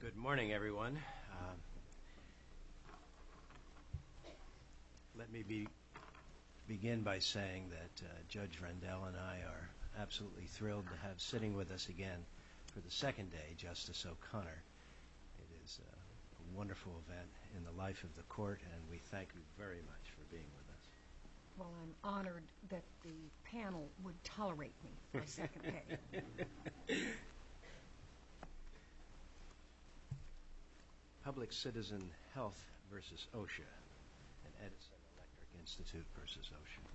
Good morning everyone. Let me begin by saying that Judge Rendell and I are absolutely thrilled to have sitting with us again for the second day Justice O'Connor. It is a wonderful event in the life of the court and we thank you very much for being with us. Well I'm honored that the panel would tolerate me for a second day. Public Citizen Health v. OSHA and Edison Electric Institute v. OSHA.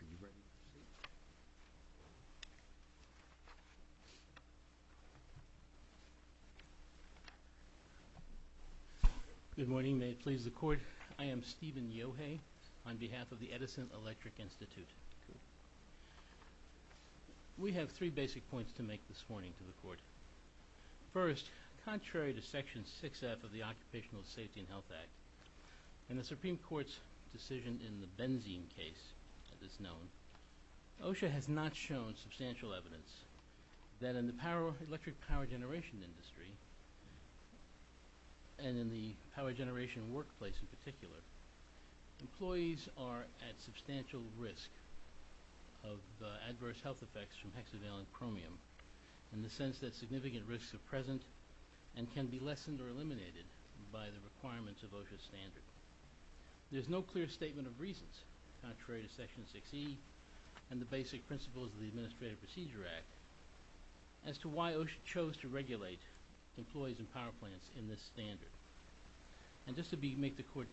Are you ready to proceed? Good morning. May it please the court, I am Stephen Yohei on behalf of the Edison Electric Institute. We have three basic points to make this morning to the court. First, contrary to section 6F of the Occupational Safety and Health Act, in the OSHA has not shown substantial evidence that in the power electric power generation industry and in the power generation workplace in particular, employees are at substantial risk of adverse health effects from hexavalent chromium in the sense that significant risks are present and can be lessened or eliminated by the requirements of OSHA standard. There's no clear statement of section 6E and the basic principles of the Administrative Procedure Act as to why OSHA chose to regulate employees and power plants in this standard. And just to be make the court,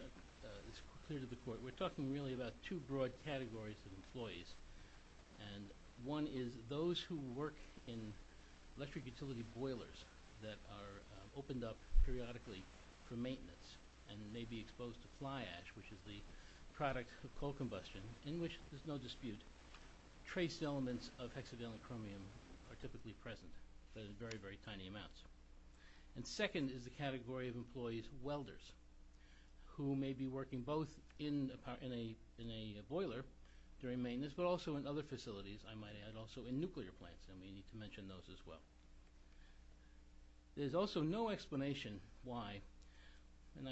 clear to the court, we're talking really about two broad categories of employees and one is those who work in electric utility boilers that are opened up periodically for maintenance and may be exposed to fly combustion in which there's no dispute. Trace elements of hexavalent chromium are typically present but in very, very tiny amounts. And second is the category of employees welders who may be working both in a boiler during maintenance but also in other facilities, I might add, also in nuclear plants and we need to mention those as well. There's also no explanation why, and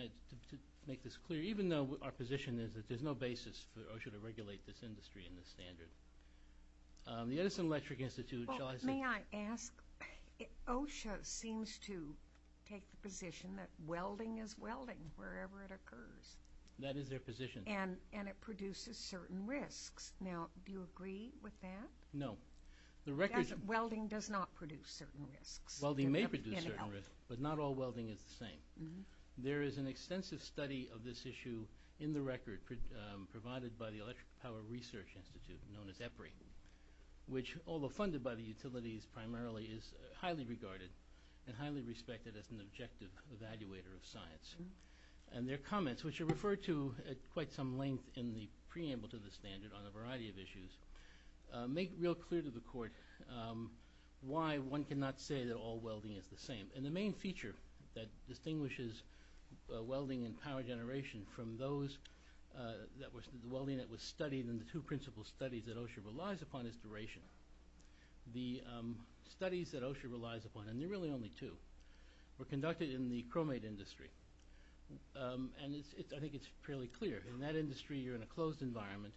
to make this clear, OSHA chose to regulate this industry in this standard. The Edison Electric Institute, shall I say... May I ask, OSHA seems to take the position that welding is welding wherever it occurs. That is their position. And it produces certain risks. Now, do you agree with that? No. Welding does not produce certain risks. Welding may produce certain risks, but not all welding is the same. There is an extensive study of this issue in the record provided by the Electric Power Research Institute, known as EPRI, which, although funded by the utilities primarily, is highly regarded and highly respected as an objective evaluator of science. And their comments, which are referred to at quite some length in the preamble to the standard on a variety of issues, make real clear to the Court why one cannot say that all welding is the same. And the main feature that distinguishes welding and power generation from the welding that was studied in the two principal studies that OSHA relies upon is duration. The studies that OSHA relies upon, and there are really only two, were conducted in the chromate industry. And I think it's fairly clear. In that industry, you're in a closed environment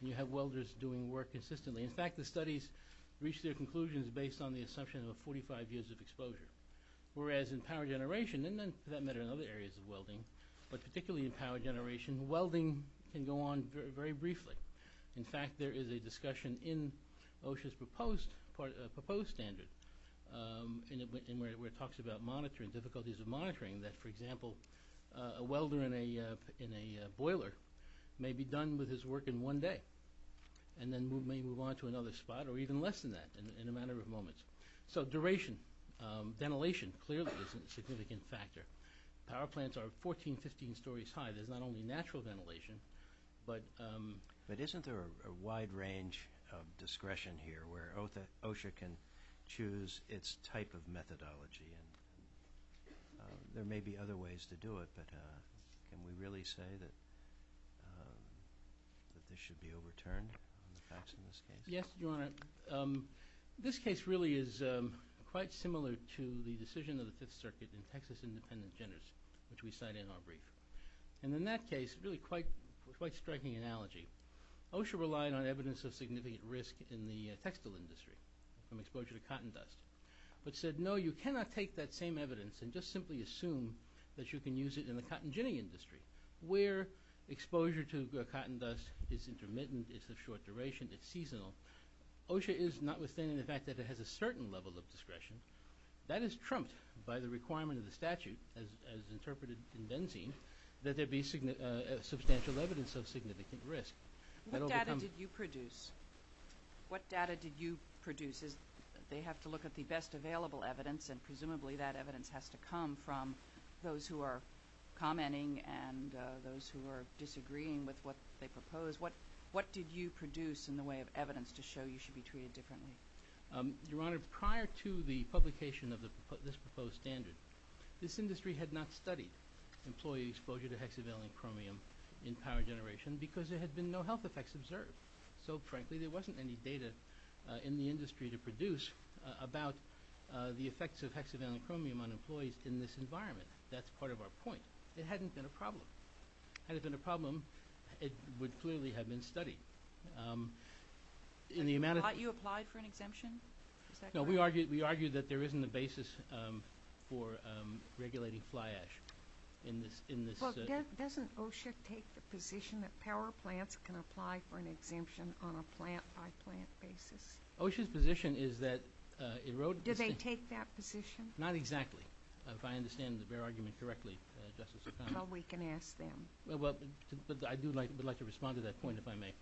and you have welders doing work consistently. In fact, the studies reached their conclusions based on the assumption of 45 years of exposure. Whereas in power generation, and for that matter in other areas of welding, but particularly in power generation, welding can go on very briefly. In fact, there is a discussion in OSHA's proposed standard, where it talks about monitoring, difficulties of monitoring, that, for example, a welder in a boiler may be done with his work in one day and then may move on to another spot or even less than that in a matter of moments. So duration, ventilation, clearly is a significant factor. Power plants are 14, 15 stories high. There's not only natural ventilation, but... But isn't there a wide range of discretion here where OSHA can choose its type of methodology? There may be other ways to do it, but can we really say that this should be overturned on the facts in this case? Yes, Your Honor. This case really is quite similar to the decision of the Fifth Circuit in Texas Independence genders, which we cite in our brief. And in that case, really quite a striking analogy. OSHA relied on evidence of significant risk in the textile industry from exposure to cotton dust, but said, no, you cannot take that same evidence and just simply assume that you can use it in the cotton ginning industry, where exposure to cotton dust is intermittent, it's of short duration, it's seasonal. OSHA is notwithstanding the fact that it has a certain level of discretion, that is trumped by the requirement of the statute, as interpreted in Benzene, that there be substantial evidence of significant risk. What data did you produce? What data did you produce? They have to look at the best available evidence, and presumably that evidence has to come from those who are commenting and those who are disagreeing with what they propose. What did you produce in the way of evidence to show you should be treated differently? Your Honor, prior to the publication of this proposed standard, this industry had not studied employee exposure to hexavalent chromium in power generation because there had been no health effects observed. So, frankly, there wasn't any data in the industry to produce about the effects of hexavalent chromium on employees in this environment. That's part of our point. It hadn't been a problem. Had it been a problem, it would clearly have been studied. And you applied for an exemption? Is that correct? No, we argue that there isn't a basis for regulating fly ash in this. Well, doesn't OSHA take the position that power plants can apply for an exemption on a plant-by-plant basis? OSHA's position is that it wrote – Do they take that position? Not exactly, if I understand the bare argument correctly, Justice O'Connor. Well, we can ask them. Well, I would like to respond to that point, if I may.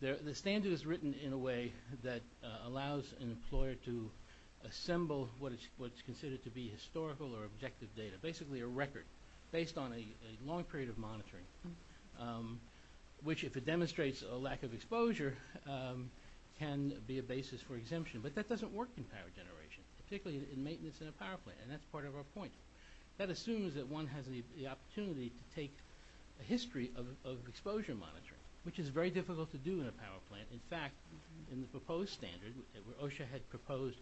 The standard is written in a way that allows an employer to assemble what is considered to be historical or objective data, basically a record based on a long period of monitoring, which, if it demonstrates a lack of exposure, can be a basis for exemption. But that doesn't work in power generation, particularly in maintenance in a power plant, and that's part of our point. That assumes that one has the opportunity to take a history of exposure monitoring, which is very difficult to do in a power plant. In fact, in the proposed standard, OSHA had proposed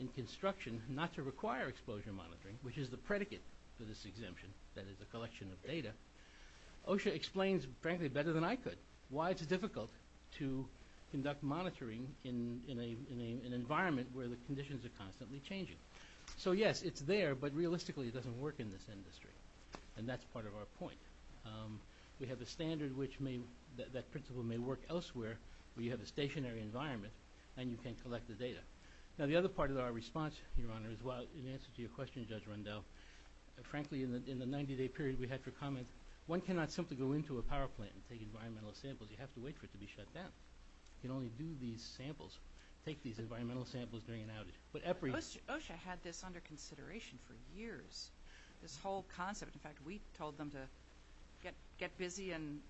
in construction not to require exposure monitoring, which is the predicate for this exemption, that is, a collection of data. OSHA explains, frankly, better than I could, why it's difficult to conduct monitoring in an environment where the conditions are constantly changing. So, yes, it's there, but realistically it doesn't work in this industry, and that's part of our point. We have a standard which may – that principle may work elsewhere, where you have a stationary environment and you can collect the data. Now, the other part of our response, Your Honor, is in answer to your question, Judge Rundell, frankly, in the 90-day period we had for comment, one cannot simply go into a power plant and take environmental samples. You have to wait for it to be shut down. You can only do these samples, take these environmental samples during an outage. OSHA had this under consideration for years, this whole concept. In fact, we told them to get busy and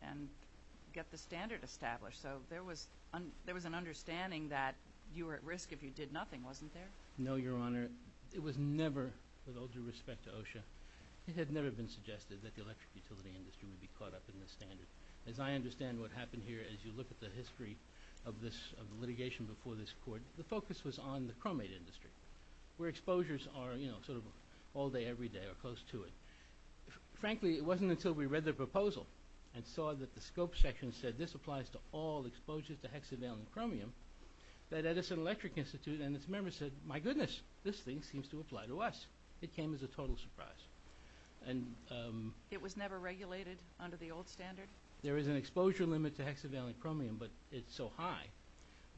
get the standard established. So there was an understanding that you were at risk if you did nothing, wasn't there? No, Your Honor. It was never, with all due respect to OSHA, it had never been suggested that the electric utility industry would be caught up in this standard. As I understand what happened here, as you look at the history of litigation before this Court, the focus was on the chromate industry, where exposures are, you know, sort of all day, every day, or close to it. Frankly, it wasn't until we read the proposal and saw that the scope section said this applies to all exposures to hexavalent chromium that Edison Electric Institute and its members said, my goodness, this thing seems to apply to us. It came as a total surprise. It was never regulated under the old standard? There is an exposure limit to hexavalent chromium, but it's so high.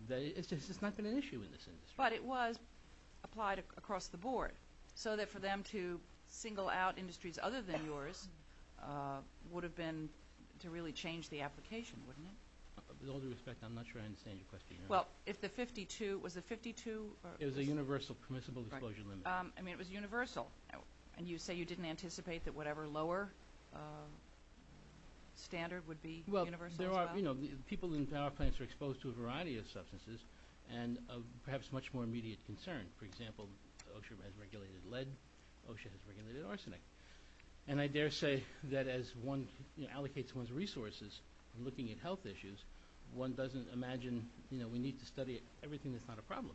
It's just not been an issue in this industry. But it was applied across the board, so that for them to single out industries other than yours would have been to really change the application, wouldn't it? With all due respect, I'm not sure I understand your question, Your Honor. Well, if the 52, was it 52? It was a universal permissible exposure limit. I mean, it was universal. And you say you didn't anticipate that whatever lower standard would be universal as well? Well, there are, you know, people in power plants are exposed to a variety of substances, and perhaps much more immediate concern. For example, OSHA has regulated lead. OSHA has regulated arsenic. And I dare say that as one allocates one's resources in looking at health issues, one doesn't imagine, you know, we need to study everything that's not a problem.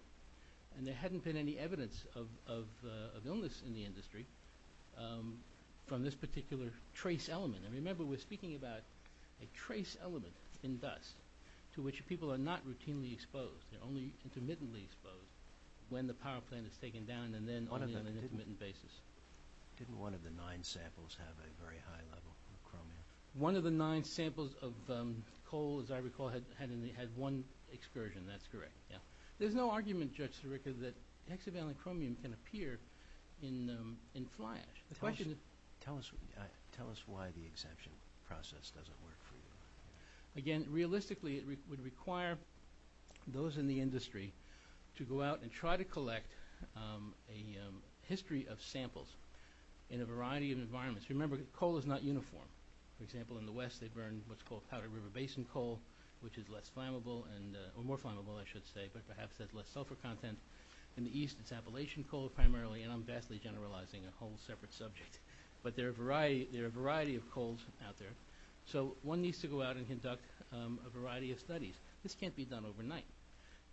And there hadn't been any evidence of illness in the industry from this particular trace element. And remember, we're speaking about a trace element in dust to which people are not routinely exposed. They're only intermittently exposed when the power plant is taken down and then only on an intermittent basis. Didn't one of the nine samples have a very high level of chromium? One of the nine samples of coal, as I recall, had one excursion. That's correct, yeah. There's no argument, Judge Sirica, that hexavalent chromium can appear in fly ash. Tell us why the exemption process doesn't work for you. Again, realistically, it would require those in the industry to go out and try to collect a history of samples in a variety of environments. Remember, coal is not uniform. For example, in the West they burn what's called powder river basin coal, which is less flammable, or more flammable, I should say, but perhaps has less sulfur content. In the East it's Appalachian coal primarily, and I'm vastly generalizing a whole separate subject. But there are a variety of coals out there, so one needs to go out and conduct a variety of studies. This can't be done overnight.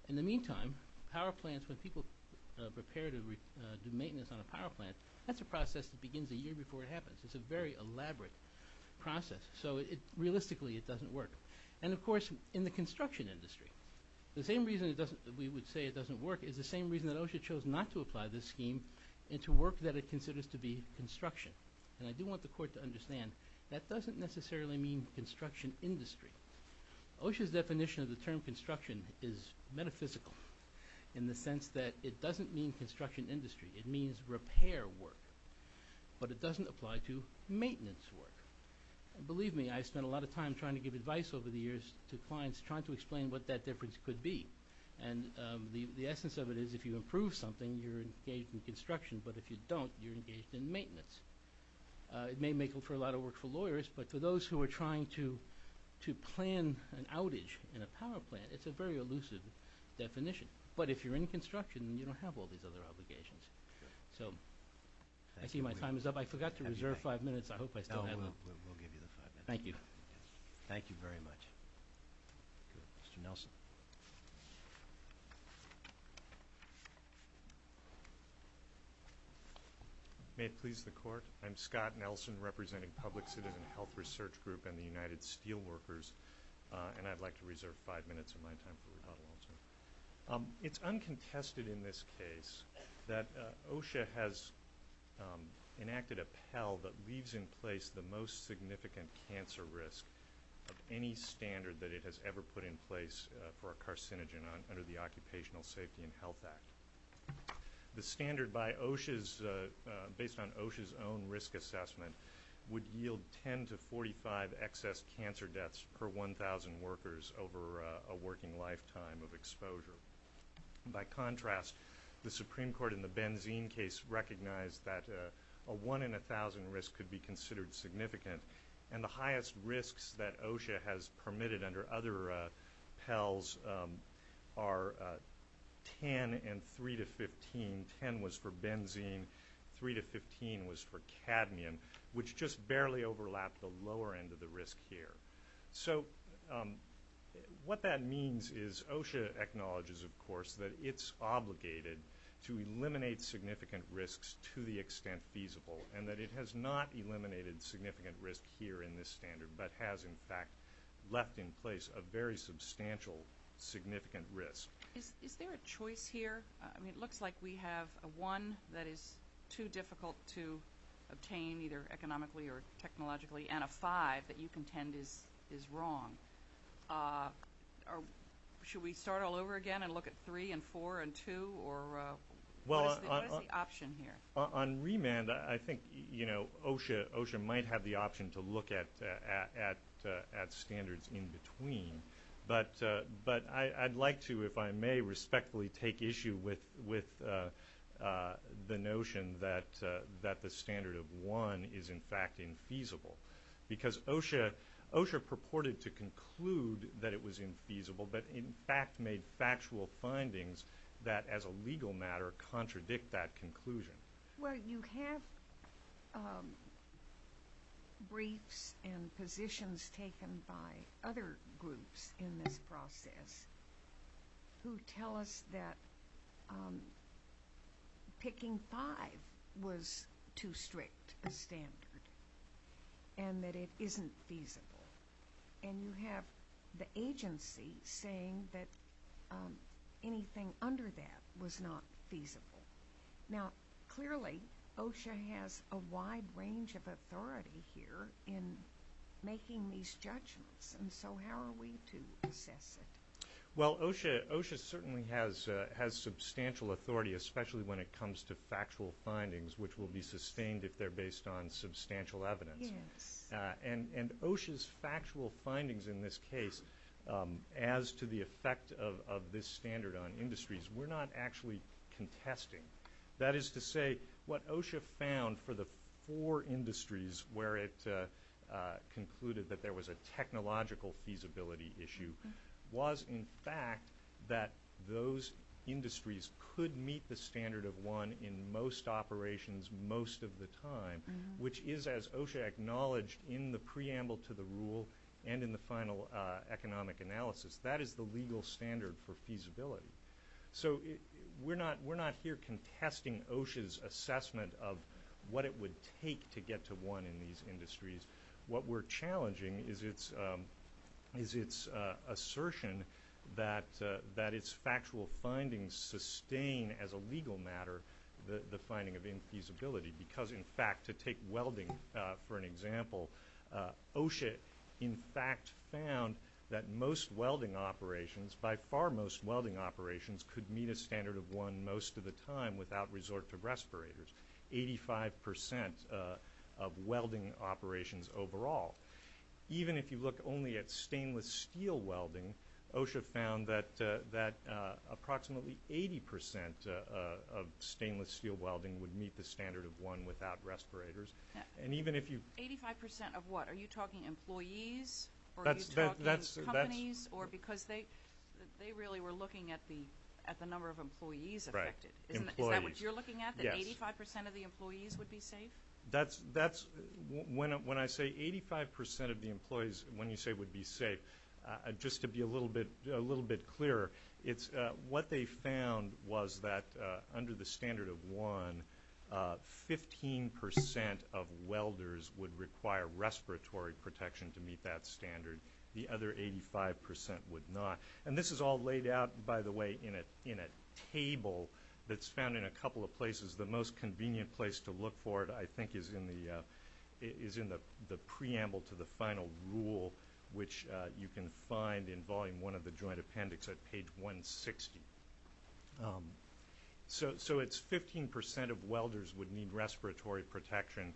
In the meantime, power plants, when people prepare to do maintenance on a power plant, that's a process that begins a year before it happens. It's a very elaborate process, so realistically it doesn't work. And, of course, in the construction industry, the same reason we would say it doesn't work is the same reason that OSHA chose not to apply this scheme into work that it considers to be construction. And I do want the Court to understand that doesn't necessarily mean construction industry. OSHA's definition of the term construction is metaphysical in the sense that it doesn't mean construction industry. It means repair work, but it doesn't apply to maintenance work. Believe me, I've spent a lot of time trying to give advice over the years to clients, trying to explain what that difference could be. And the essence of it is if you improve something, you're engaged in construction, but if you don't, you're engaged in maintenance. It may make for a lot of work for lawyers, but for those who are trying to plan an outage in a power plant, it's a very elusive definition. But if you're in construction, you don't have all these other obligations. So I see my time is up. I forgot to reserve five minutes. I hope I still have them. We'll give you the five minutes. Thank you. Thank you very much. Mr. Nelson. May it please the Court. I'm Scott Nelson representing Public Citizen Health Research Group and the United Steelworkers, and I'd like to reserve five minutes of my time for rebuttal also. It's uncontested in this case that OSHA has enacted a Pell that leaves in place the most significant cancer risk of any standard that it has ever put in place for a carcinogen under the Occupational Safety and Health Act. The standard, based on OSHA's own risk assessment, would yield 10 to 45 excess cancer deaths per 1,000 workers over a working lifetime of exposure. By contrast, the Supreme Court in the benzene case recognized that a 1 in 1,000 risk could be considered significant, and the highest risks that OSHA has permitted under other Pells are 10 and 3 to 15. Ten was for benzene. Three to 15 was for cadmium, which just barely overlapped the lower end of the risk here. So what that means is OSHA acknowledges, of course, that it's obligated to eliminate significant risks to the extent feasible and that it has not eliminated significant risk here in this standard but has, in fact, left in place a very substantial significant risk. Is there a choice here? I mean, it looks like we have a 1 that is too difficult to obtain, either economically or technologically, and a 5 that you contend is wrong. Should we start all over again and look at 3 and 4 and 2? What is the option here? On remand, I think OSHA might have the option to look at standards in between, but I'd like to, if I may, respectfully take issue with the notion that the standard of 1 is, in fact, infeasible because OSHA purported to conclude that it was infeasible but, in fact, made factual findings that, as a legal matter, contradict that conclusion. Well, you have briefs and positions taken by other groups in this process who tell us that picking 5 was too strict a standard and that it isn't feasible, and you have the agency saying that anything under that was not feasible. Now, clearly, OSHA has a wide range of authority here in making these judgments, and so how are we to assess it? Well, OSHA certainly has substantial authority, especially when it comes to factual findings, which will be sustained if they're based on substantial evidence. Yes. And OSHA's factual findings in this case, as to the effect of this standard on industries, we're not actually contesting. That is to say, what OSHA found for the four industries where it concluded that there was a technological feasibility issue was, in fact, that those industries could meet the standard of 1 in most operations most of the time, which is, as OSHA acknowledged in the preamble to the rule and in the final economic analysis, that is the legal standard for feasibility. So we're not here contesting OSHA's assessment of what it would take to get to 1 in these industries. What we're challenging is its assertion that its factual findings sustain, as a legal matter, the finding of infeasibility because, in fact, to take welding for an example, OSHA, in fact, found that most welding operations, by far most welding operations, could meet a standard of 1 most of the time without resort to respirators, 85% of welding operations overall. Even if you look only at stainless steel welding, OSHA found that approximately 80% of stainless steel welding would meet the standard of 1 without respirators. Eighty-five percent of what? Are you talking employees? Are you talking companies? Because they really were looking at the number of employees affected. Is that what you're looking at, that 85% of the employees would be safe? When I say 85% of the employees, when you say would be safe, just to be a little bit clearer, what they found was that under the standard of 1, 15% of welders would require respiratory protection to meet that standard. The other 85% would not. And this is all laid out, by the way, in a table that's found in a couple of places. The most convenient place to look for it, I think, is in the preamble to the final rule, which you can find in Volume 1 of the Joint Appendix at page 160. So it's 15% of welders would need respiratory protection.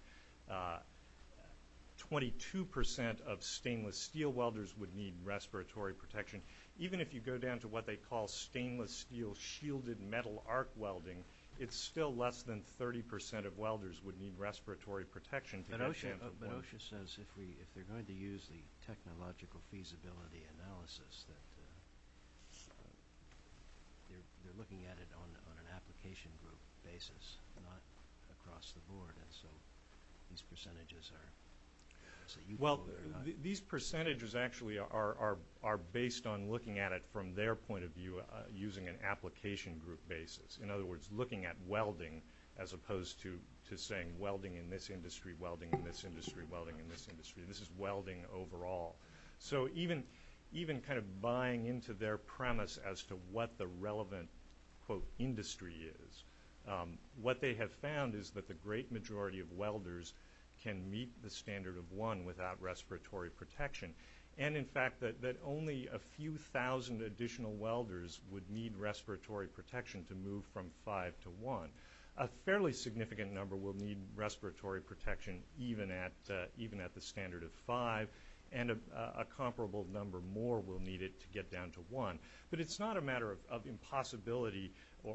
Twenty-two percent of stainless steel welders would need respiratory protection. Even if you go down to what they call stainless steel shielded metal arc welding, it's still less than 30% of welders would need respiratory protection to get to that point. But OSHA says if they're going to use the technological feasibility analysis, that they're looking at it on an application group basis, not across the board. And so these percentages are – Well, these percentages actually are based on looking at it from their point of view using an application group basis. In other words, looking at welding as opposed to saying welding in this industry, welding in this industry, welding in this industry. This is welding overall. So even kind of buying into their premise as to what the relevant, quote, industry is, what they have found is that the great majority of welders can meet the standard of one without respiratory protection. And, in fact, that only a few thousand additional welders would need respiratory protection to move from five to one. A fairly significant number will need respiratory protection even at the standard of five. And a comparable number more will need it to get down to one. But it's not a matter of impossibility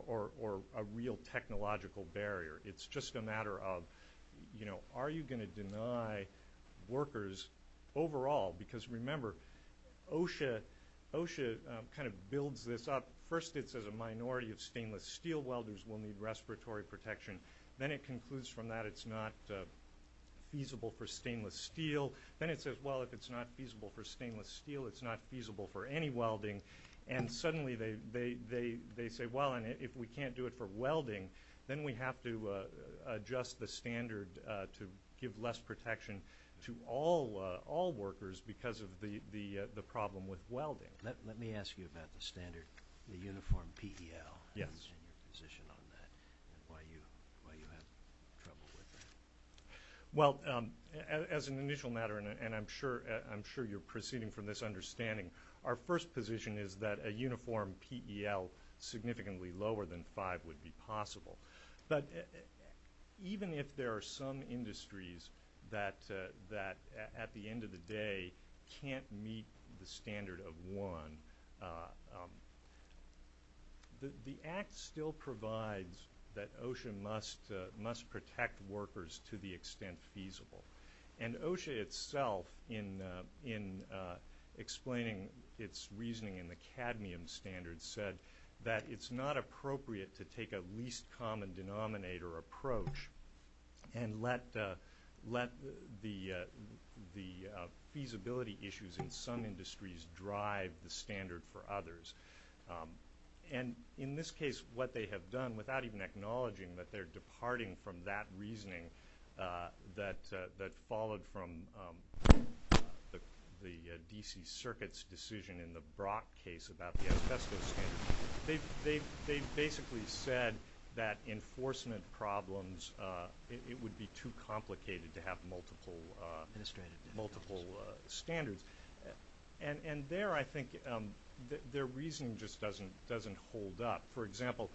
or a real technological barrier. It's just a matter of, you know, are you going to deny workers overall? Because, remember, OSHA kind of builds this up. First it says a minority of stainless steel welders will need respiratory protection. Then it concludes from that it's not feasible for stainless steel. Then it says, well, if it's not feasible for stainless steel, it's not feasible for any welding. And suddenly they say, well, if we can't do it for welding, then we have to adjust the standard to give less protection to all workers because of the problem with welding. Let me ask you about the standard, the uniform PEL and your position on that and why you have trouble with that. Well, as an initial matter, and I'm sure you're proceeding from this understanding, our first position is that a uniform PEL significantly lower than five would be possible. But even if there are some industries that, at the end of the day, can't meet the standard of one, the Act still provides that OSHA must protect workers to the extent feasible. And OSHA itself, in explaining its reasoning in the cadmium standard, said that it's not appropriate to take a least common denominator approach and let the feasibility issues in some industries drive the standard for others. And in this case, what they have done, without even acknowledging that they're departing from that reasoning that followed from the D.C. Circuit's decision in the Brock case about the asbestos standard, they basically said that enforcement problems, it would be too complicated to have multiple standards. And there, I think, their reasoning just doesn't hold up. For example,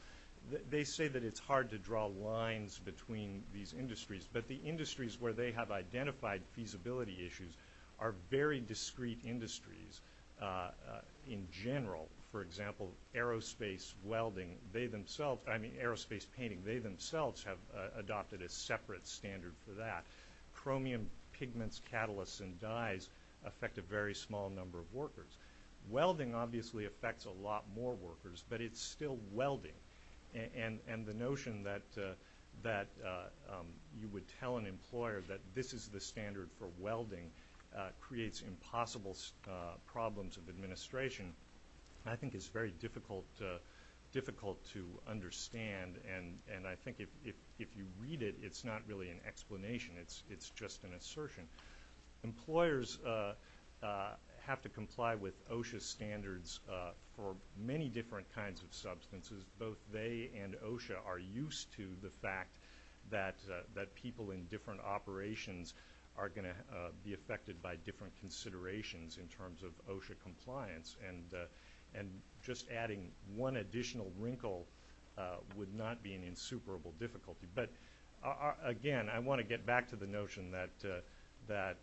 they say that it's hard to draw lines between these industries, but the industries where they have identified feasibility issues are very discrete industries in general. For example, aerospace painting, they themselves have adopted a separate standard for that. Chromium pigments, catalysts, and dyes affect a very small number of workers. Welding obviously affects a lot more workers, but it's still welding. And the notion that you would tell an employer that this is the standard for welding creates impossible problems of administration. I think it's very difficult to understand, and I think if you read it, it's not really an explanation. It's just an assertion. Employers have to comply with OSHA standards for many different kinds of substances. Both they and OSHA are used to the fact that people in different operations are going to be affected by different considerations in terms of OSHA compliance. And just adding one additional wrinkle would not be an insuperable difficulty. But, again, I want to get back to the notion that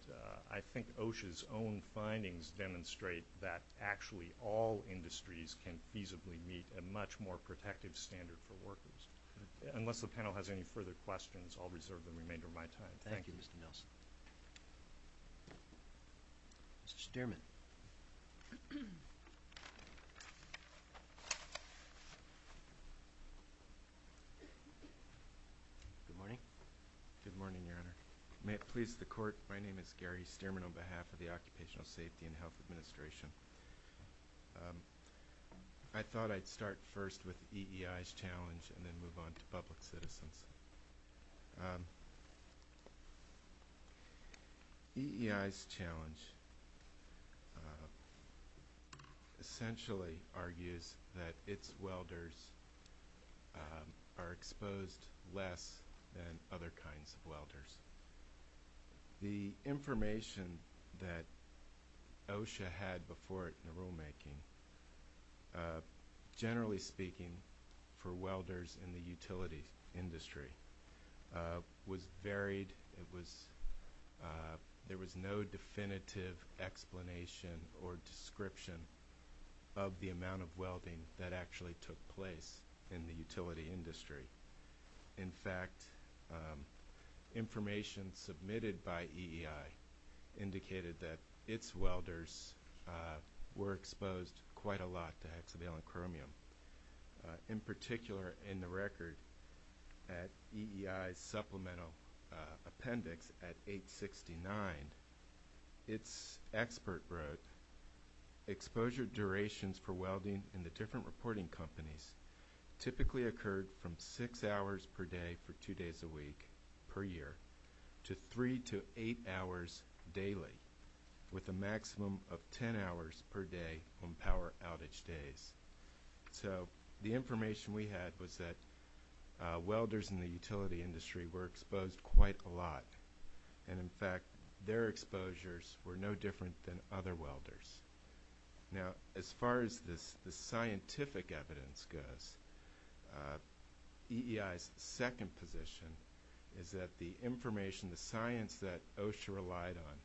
I think OSHA's own findings demonstrate that actually all industries can feasibly meet a much more protective standard for workers. Unless the panel has any further questions, I'll reserve the remainder of my time. Thank you, Mr. Nelson. Mr. Stearman. Good morning. Good morning, Your Honor. May it please the Court, my name is Gary Stearman on behalf of the Occupational Safety and Health Administration. I thought I'd start first with EEI's challenge and then move on to public citizens. EEI's challenge essentially argues that its welders are exposed less than other kinds of welders. The information that OSHA had before it in the rulemaking, generally speaking for welders in the utility industry, was varied. There was no definitive explanation or description of the amount of welding that actually took place in the utility industry. In fact, information submitted by EEI indicated that its welders were exposed quite a lot to hexavalent chromium. In particular, in the record at EEI's supplemental appendix at 869, its expert wrote, exposure durations for welding in the different reporting companies typically occurred from six hours per day for two days a week per year to three to eight hours daily, with a maximum of ten hours per day on power outage days. So the information we had was that welders in the utility industry were exposed quite a lot, and in fact, their exposures were no different than other welders. Now, as far as the scientific evidence goes, EEI's second position is that the information, the science that OSHA relied on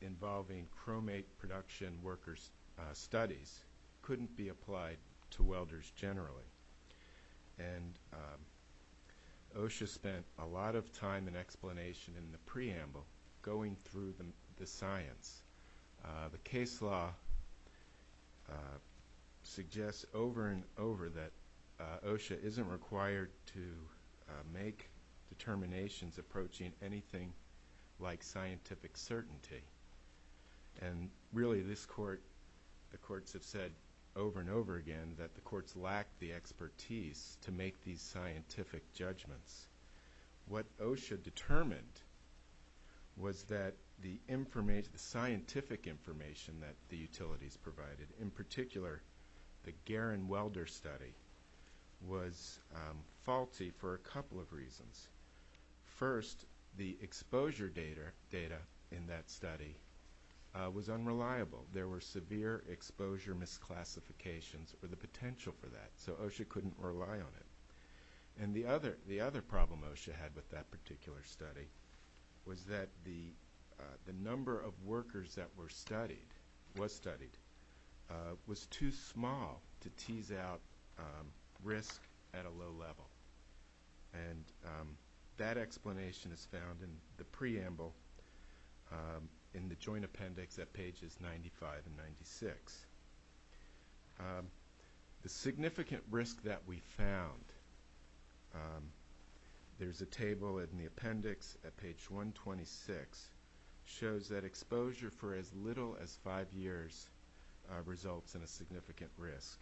involving chromate production worker studies couldn't be applied to welders generally. OSHA spent a lot of time and explanation in the preamble going through the science. The case law suggests over and over that OSHA isn't required to make determinations approaching anything like scientific certainty. And really, the courts have said over and over again that the courts lack the expertise to make these scientific judgments. What OSHA determined was that the scientific information that the utilities provided, in particular the Guerin welder study, was faulty for a couple of reasons. First, the exposure data in that study was unreliable. There were severe exposure misclassifications for the potential for that, so OSHA couldn't rely on it. And the other problem OSHA had with that particular study was that the number of workers that were studied, was studied, was too small to tease out risk at a low level. And that explanation is found in the preamble in the joint appendix at pages 95 and 96. The significant risk that we found, there's a table in the appendix at page 126, shows that exposure for as little as five years results in a significant risk.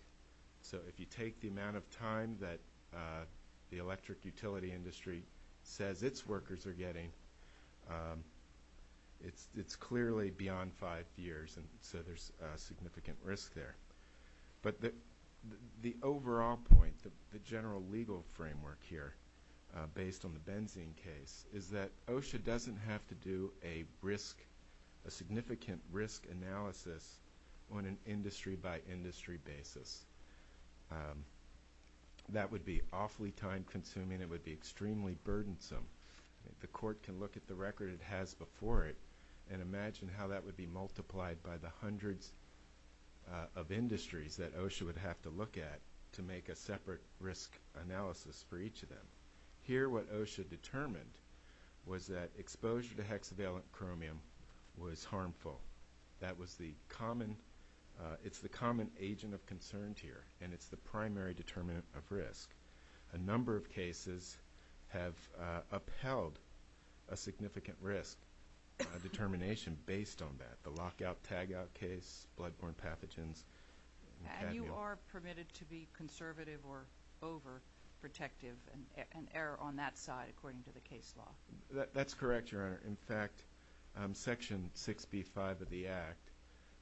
So if you take the amount of time that the electric utility industry says its workers are getting, it's clearly beyond five years, and so there's significant risk there. But the overall point, the general legal framework here, based on the benzene case, is that OSHA doesn't have to do a significant risk analysis on an industry-by-industry basis. That would be awfully time-consuming. It would be extremely burdensome. The court can look at the record it has before it and imagine how that would be multiplied by the hundreds of industries that OSHA would have to look at to make a separate risk analysis for each of them. Here what OSHA determined was that exposure to hexavalent chromium was harmful. That was the common agent of concern here, and it's the primary determinant of risk. A number of cases have upheld a significant risk determination based on that, the lockout-tagout case, blood-borne pathogens. And you are permitted to be conservative or overprotective and err on that side according to the case law? That's correct, Your Honor. In fact, Section 6B.5 of the Act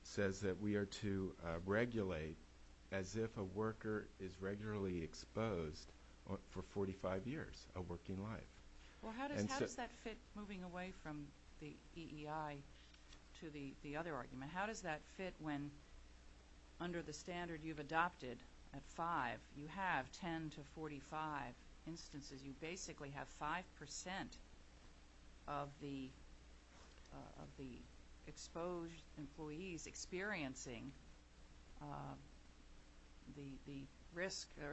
says that we are to regulate as if a worker is regularly exposed for 45 years of working life. How does that fit, moving away from the EEI to the other argument, how does that fit when under the standard you've adopted at five, you have 10 to 45 instances, you basically have 5% of the exposed employees experiencing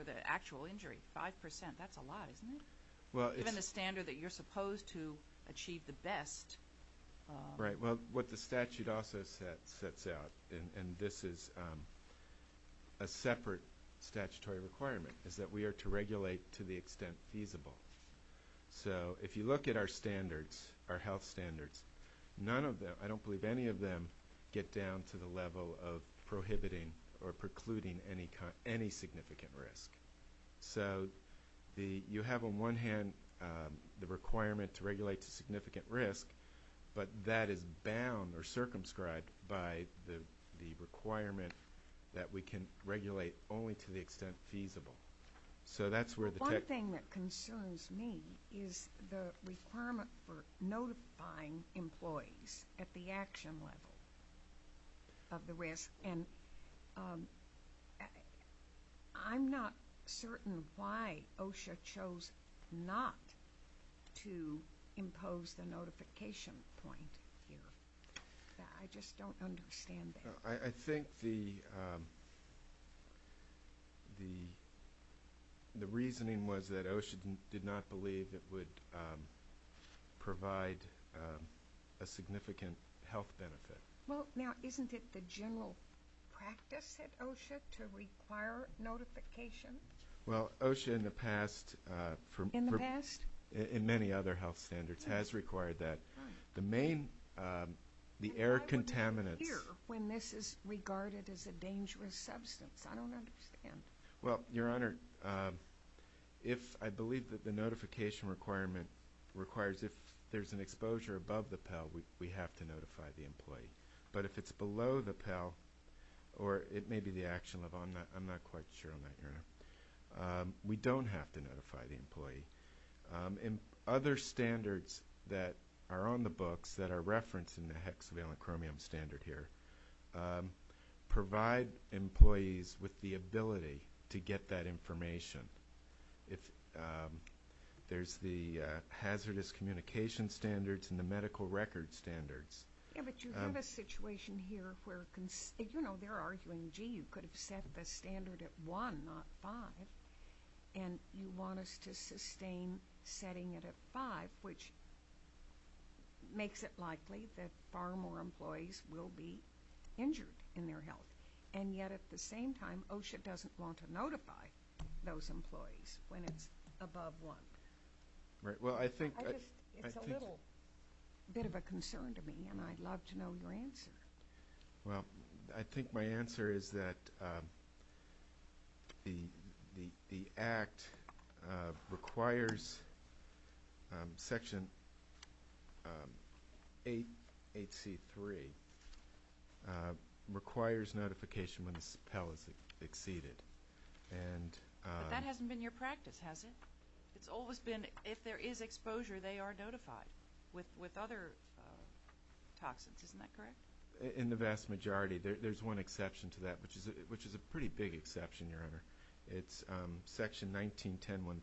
the actual injury. Five percent, that's a lot, isn't it? Given the standard that you're supposed to achieve the best. Right. What the statute also sets out, and this is a separate statutory requirement, is that we are to regulate to the extent feasible. So if you look at our standards, our health standards, none of them, I don't believe any of them, get down to the level of prohibiting or precluding any significant risk. So you have on one hand the requirement to regulate to significant risk, but that is bound or circumscribed by the requirement that we can regulate only to the extent feasible. One thing that concerns me is the requirement for notifying employees at the action level of the risk, and I'm not certain why OSHA chose not to impose the notification point here. I just don't understand that. I think the reasoning was that OSHA did not believe it would provide a significant health benefit. Well, now, isn't it the general practice at OSHA to require notification? Well, OSHA in the past, in many other health standards, has required that. Why would it appear when this is regarded as a dangerous substance? I don't understand. Well, Your Honor, I believe that the notification requirement requires if there's an exposure above the Pell, we have to notify the employee. But if it's below the Pell, or it may be the action level, I'm not quite sure on that, Your Honor, we don't have to notify the employee. Other standards that are on the books that are referenced in the hexavalent chromium standard here provide employees with the ability to get that information. There's the hazardous communication standards and the medical record standards. Yeah, but you have a situation here where they're arguing, gee, you could have set the standard at 1, not 5, and you want us to sustain setting it at 5, which makes it likely that far more employees will be injured in their health. And yet, at the same time, OSHA doesn't want to notify those employees when it's above 1. Right, well, I think that's a little bit of a concern to me, and I'd love to know your answer. Well, I think my answer is that the Act requires Section 8HC3, requires notification when the Pell is exceeded. But that hasn't been your practice, has it? It's always been if there is exposure, they are notified with other toxins. Isn't that correct? In the vast majority. There's one exception to that, which is a pretty big exception, Your Honor. It's Section 1910-1000,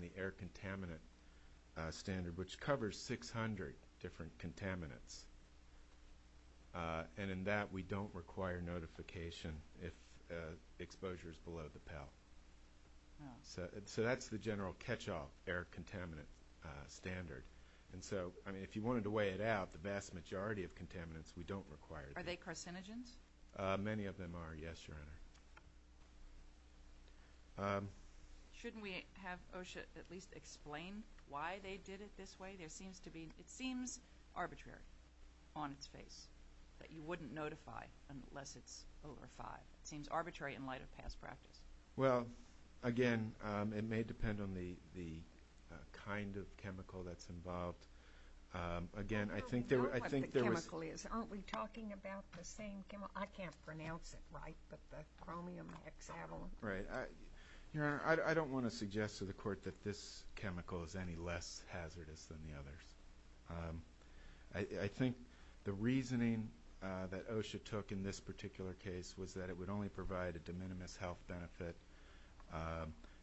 the air contaminant standard, which covers 600 different contaminants. And in that, we don't require notification if exposure is below the Pell. So that's the general catch-all air contaminant standard. And so, I mean, if you wanted to weigh it out, the vast majority of contaminants we don't require. Are they carcinogens? Many of them are, yes, Your Honor. Shouldn't we have OSHA at least explain why they did it this way? It seems arbitrary on its face that you wouldn't notify unless it's over 5. It seems arbitrary in light of past practice. Well, again, it may depend on the kind of chemical that's involved. Again, I think there was – We know what the chemical is. Aren't we talking about the same chemical? I can't pronounce it right, but the chromium hexavalent. Right. Your Honor, I don't want to suggest to the Court that this chemical is any less hazardous than the others. I think the reasoning that OSHA took in this particular case was that it would only provide a de minimis health benefit,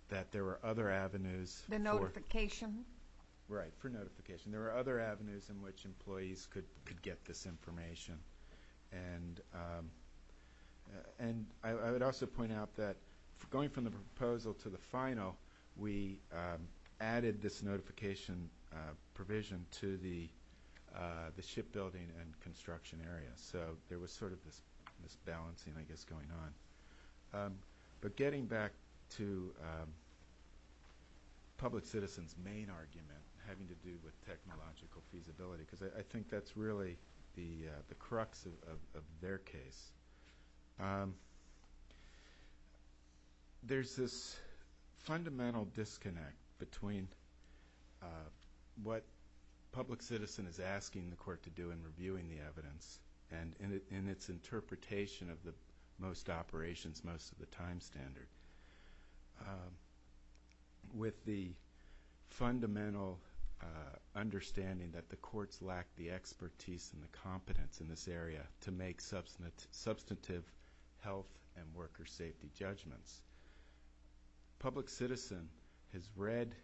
that there were other avenues for – The notification. Right, for notification. There were other avenues in which employees could get this information. And I would also point out that going from the proposal to the final, we added this notification provision to the shipbuilding and construction area. So there was sort of this balancing, I guess, going on. But getting back to public citizens' main argument having to do with technological feasibility, because I think that's really the crux of their case, there's this fundamental disconnect between what public citizen is asking the court to do in reviewing the evidence and in its interpretation of most operations, most of the time standard, with the fundamental understanding that the courts lack the expertise and the competence in this area to make substantive health and worker safety judgments. Public citizen has read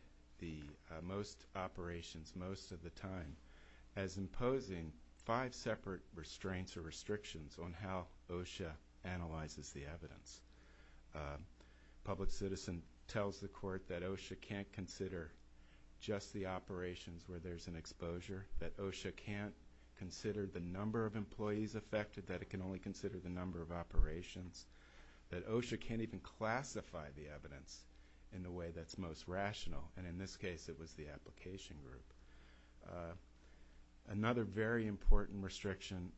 most operations most of the time as imposing five separate restraints or restrictions on how OSHA analyzes the evidence. Public citizen tells the court that OSHA can't consider just the operations where there's an exposure, that OSHA can't consider the number of employees affected, that it can only consider the number of operations, that OSHA can't even classify the evidence in the way that's most rational, and in this case it was the application group. Another very important restriction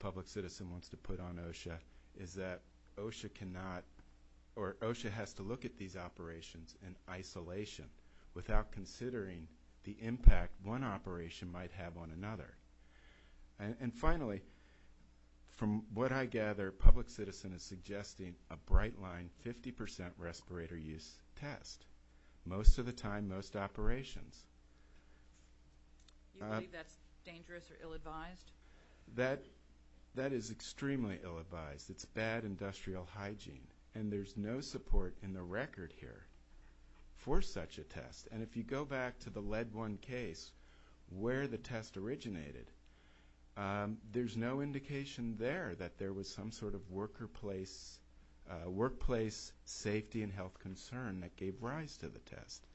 public citizen wants to put on OSHA is that OSHA cannot or OSHA has to look at these operations in isolation without considering the impact one operation might have on another. And finally, from what I gather, public citizen is suggesting a bright line 50% respirator use test most of the time, most operations. Do you believe that's dangerous or ill-advised? That is extremely ill-advised. It's bad industrial hygiene, and if you go back to the lead one case where the test originated, there's no indication there that there was some sort of workplace safety and health concern that gave rise to the test.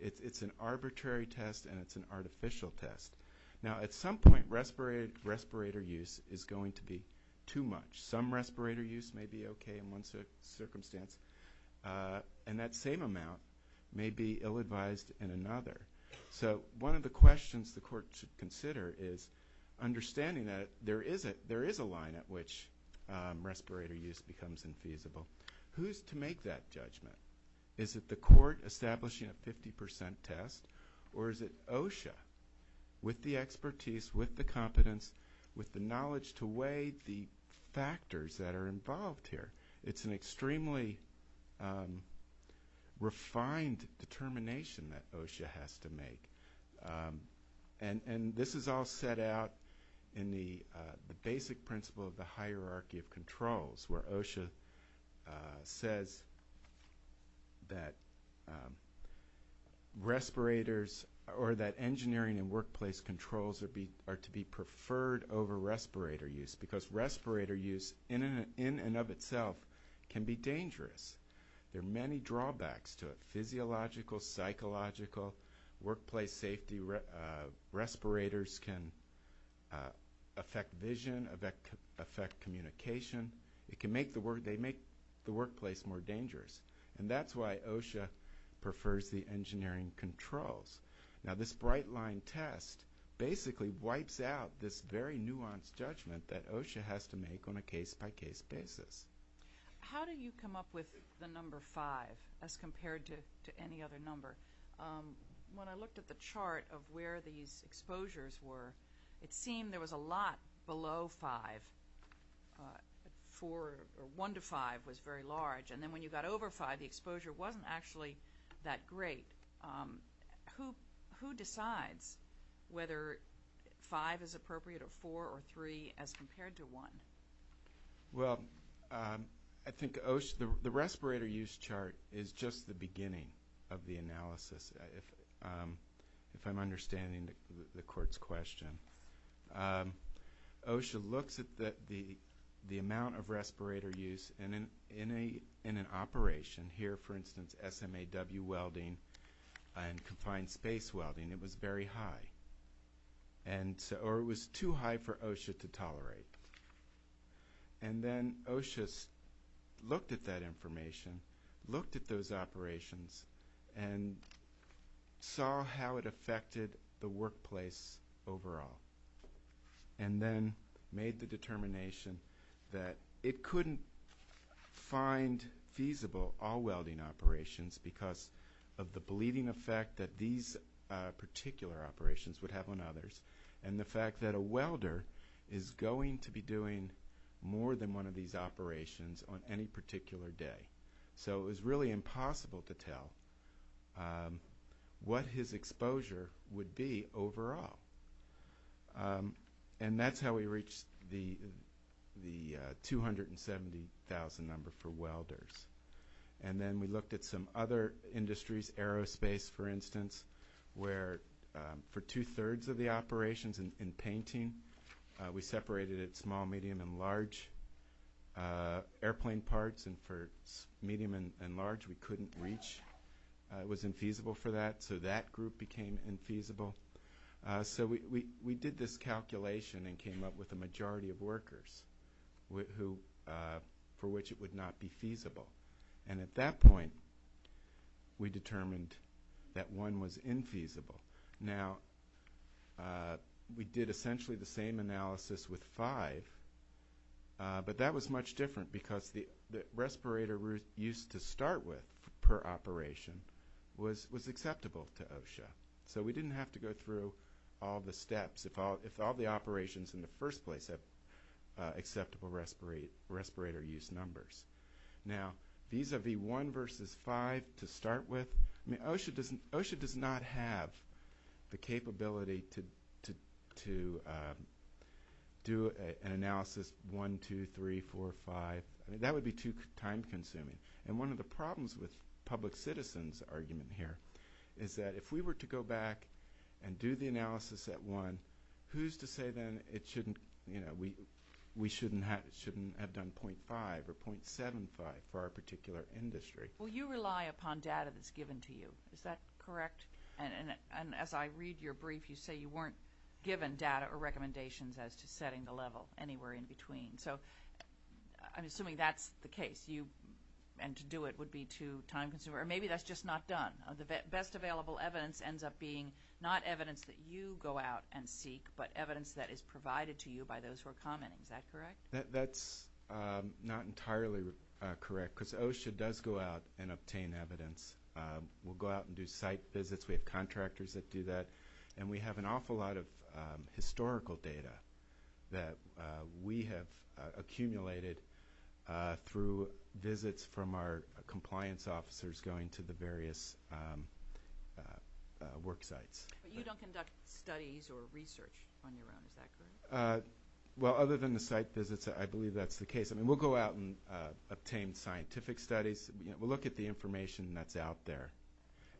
It's an arbitrary test, and it's an artificial test. Now, at some point, respirator use is going to be too much. Some respirator use may be okay in one circumstance, and that same amount may be ill-advised in another. So one of the questions the court should consider is understanding that there is a line at which respirator use becomes infeasible. Who's to make that judgment? Is it the court establishing a 50% test, or is it OSHA, with the expertise, with the competence, with the knowledge to weigh the factors that are involved here? It's an extremely refined determination that OSHA has to make, and this is all set out in the basic principle of the hierarchy of controls, where OSHA says that respirators or that engineering and workplace controls are to be preferred over respirator use because respirator use in and of itself can be dangerous. There are many drawbacks to it, physiological, psychological, workplace safety. Respirators can affect vision, affect communication. They make the workplace more dangerous, and that's why OSHA prefers the engineering controls. Now, this bright-line test basically wipes out this very nuanced judgment that OSHA has to make on a case-by-case basis. How do you come up with the number 5 as compared to any other number? When I looked at the chart of where these exposures were, it seemed there was a lot below 5. 1 to 5 was very large, and then when you got over 5, the exposure wasn't actually that great. Who decides whether 5 is appropriate or 4 or 3 as compared to 1? Well, I think the respirator use chart is just the beginning of the analysis, if I'm understanding the court's question. OSHA looks at the amount of respirator use in an operation, here, for instance, SMAW welding and confined space welding. It was very high, or it was too high for OSHA to tolerate. Then OSHA looked at that information, looked at those operations, and saw how it affected the workplace overall and then made the determination that it couldn't find feasible all welding operations because of the bleeding effect that these particular operations would have on others and the fact that a welder is going to be doing more than one of these operations on any particular day. So it was really impossible to tell what his exposure would be overall. That's how we reached the 270,000 number for welders. Then we looked at some other industries, aerospace, for instance, where for two-thirds of the operations in painting, we separated it small, medium, and large airplane parts, and for medium and large, we couldn't reach. It was infeasible for that, so that group became infeasible. So we did this calculation and came up with a majority of workers for which it would not be feasible. At that point, we determined that one was infeasible. Now, we did essentially the same analysis with five, but that was much different because the respirator use to start with per operation was acceptable to OSHA. So we didn't have to go through all the steps. If all the operations in the first place have acceptable respirator use numbers. Now, these are the one versus five to start with. OSHA does not have the capability to do an analysis one, two, three, four, five. That would be too time-consuming. One of the problems with public citizens' argument here is that if we were to go back and do the analysis at one, who's to say then we shouldn't have done 0.5 or 0.75 for our particular industry? Well, you rely upon data that's given to you. Is that correct? And as I read your brief, you say you weren't given data or recommendations as to setting the level anywhere in between. So I'm assuming that's the case, and to do it would be too time-consuming. Or maybe that's just not done. The best available evidence ends up being not evidence that you go out and seek, but evidence that is provided to you by those who are commenting. Is that correct? That's not entirely correct because OSHA does go out and obtain evidence. We'll go out and do site visits. We have contractors that do that, and we have an awful lot of historical data that we have accumulated through visits from our compliance officers going to the various work sites. But you don't conduct studies or research on your own. Is that correct? Well, other than the site visits, I believe that's the case. We'll go out and obtain scientific studies. We'll look at the information that's out there,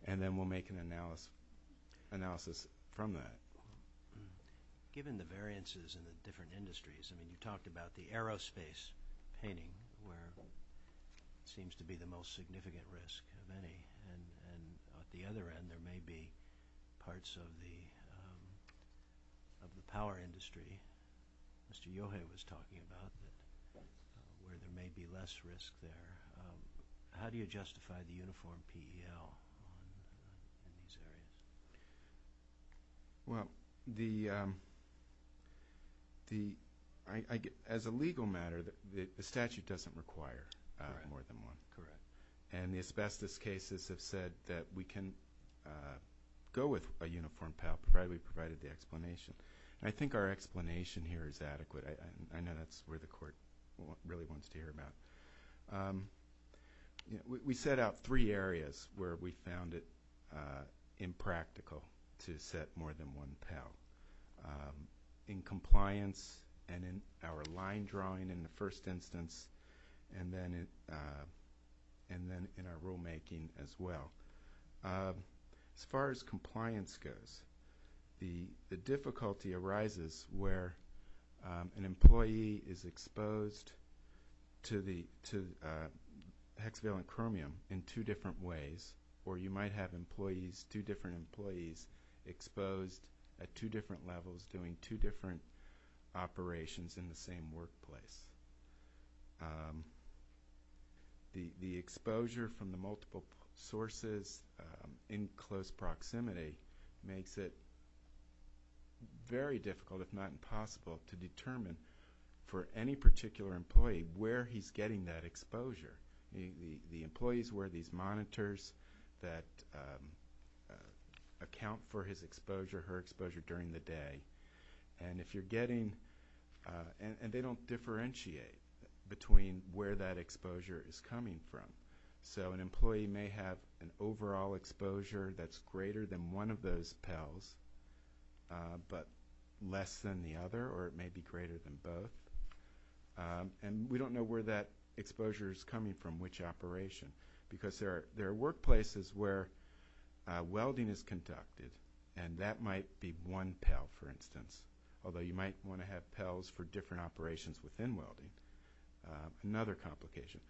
and then we'll make an analysis from that. Given the variances in the different industries, you talked about the aerospace painting where it seems to be the most significant risk of any, and at the other end there may be parts of the power industry Mr. Yohei was talking about where there may be less risk there. How do you justify the uniform PEL in these areas? Well, as a legal matter, the statute doesn't require more than one. Correct. And the asbestos cases have said that we can go with a uniform PEL provided we provided the explanation. And I think our explanation here is adequate. I know that's where the court really wants to hear about it. We set out three areas where we found it impractical to set more than one PEL, in compliance and in our line drawing in the first instance, and then in our rulemaking as well. As far as compliance goes, the difficulty arises where an employee is exposed to hexavalent chromium in two different ways, or you might have two different employees exposed at two different levels doing two different operations in the same workplace. The exposure from the multiple sources in close proximity makes it very difficult, if not impossible, to determine for any particular employee where he's getting that exposure. The employees wear these monitors that account for his exposure, her exposure during the day, and they don't differentiate between where that exposure is coming from. So an employee may have an overall exposure that's greater than one of those PELs, but less than the other, or it may be greater than both. And we don't know where that exposure is coming from, which operation, because there are workplaces where welding is conducted, and that might be one PEL, for instance, although you might want to have PELs for different operations within welding, another complication.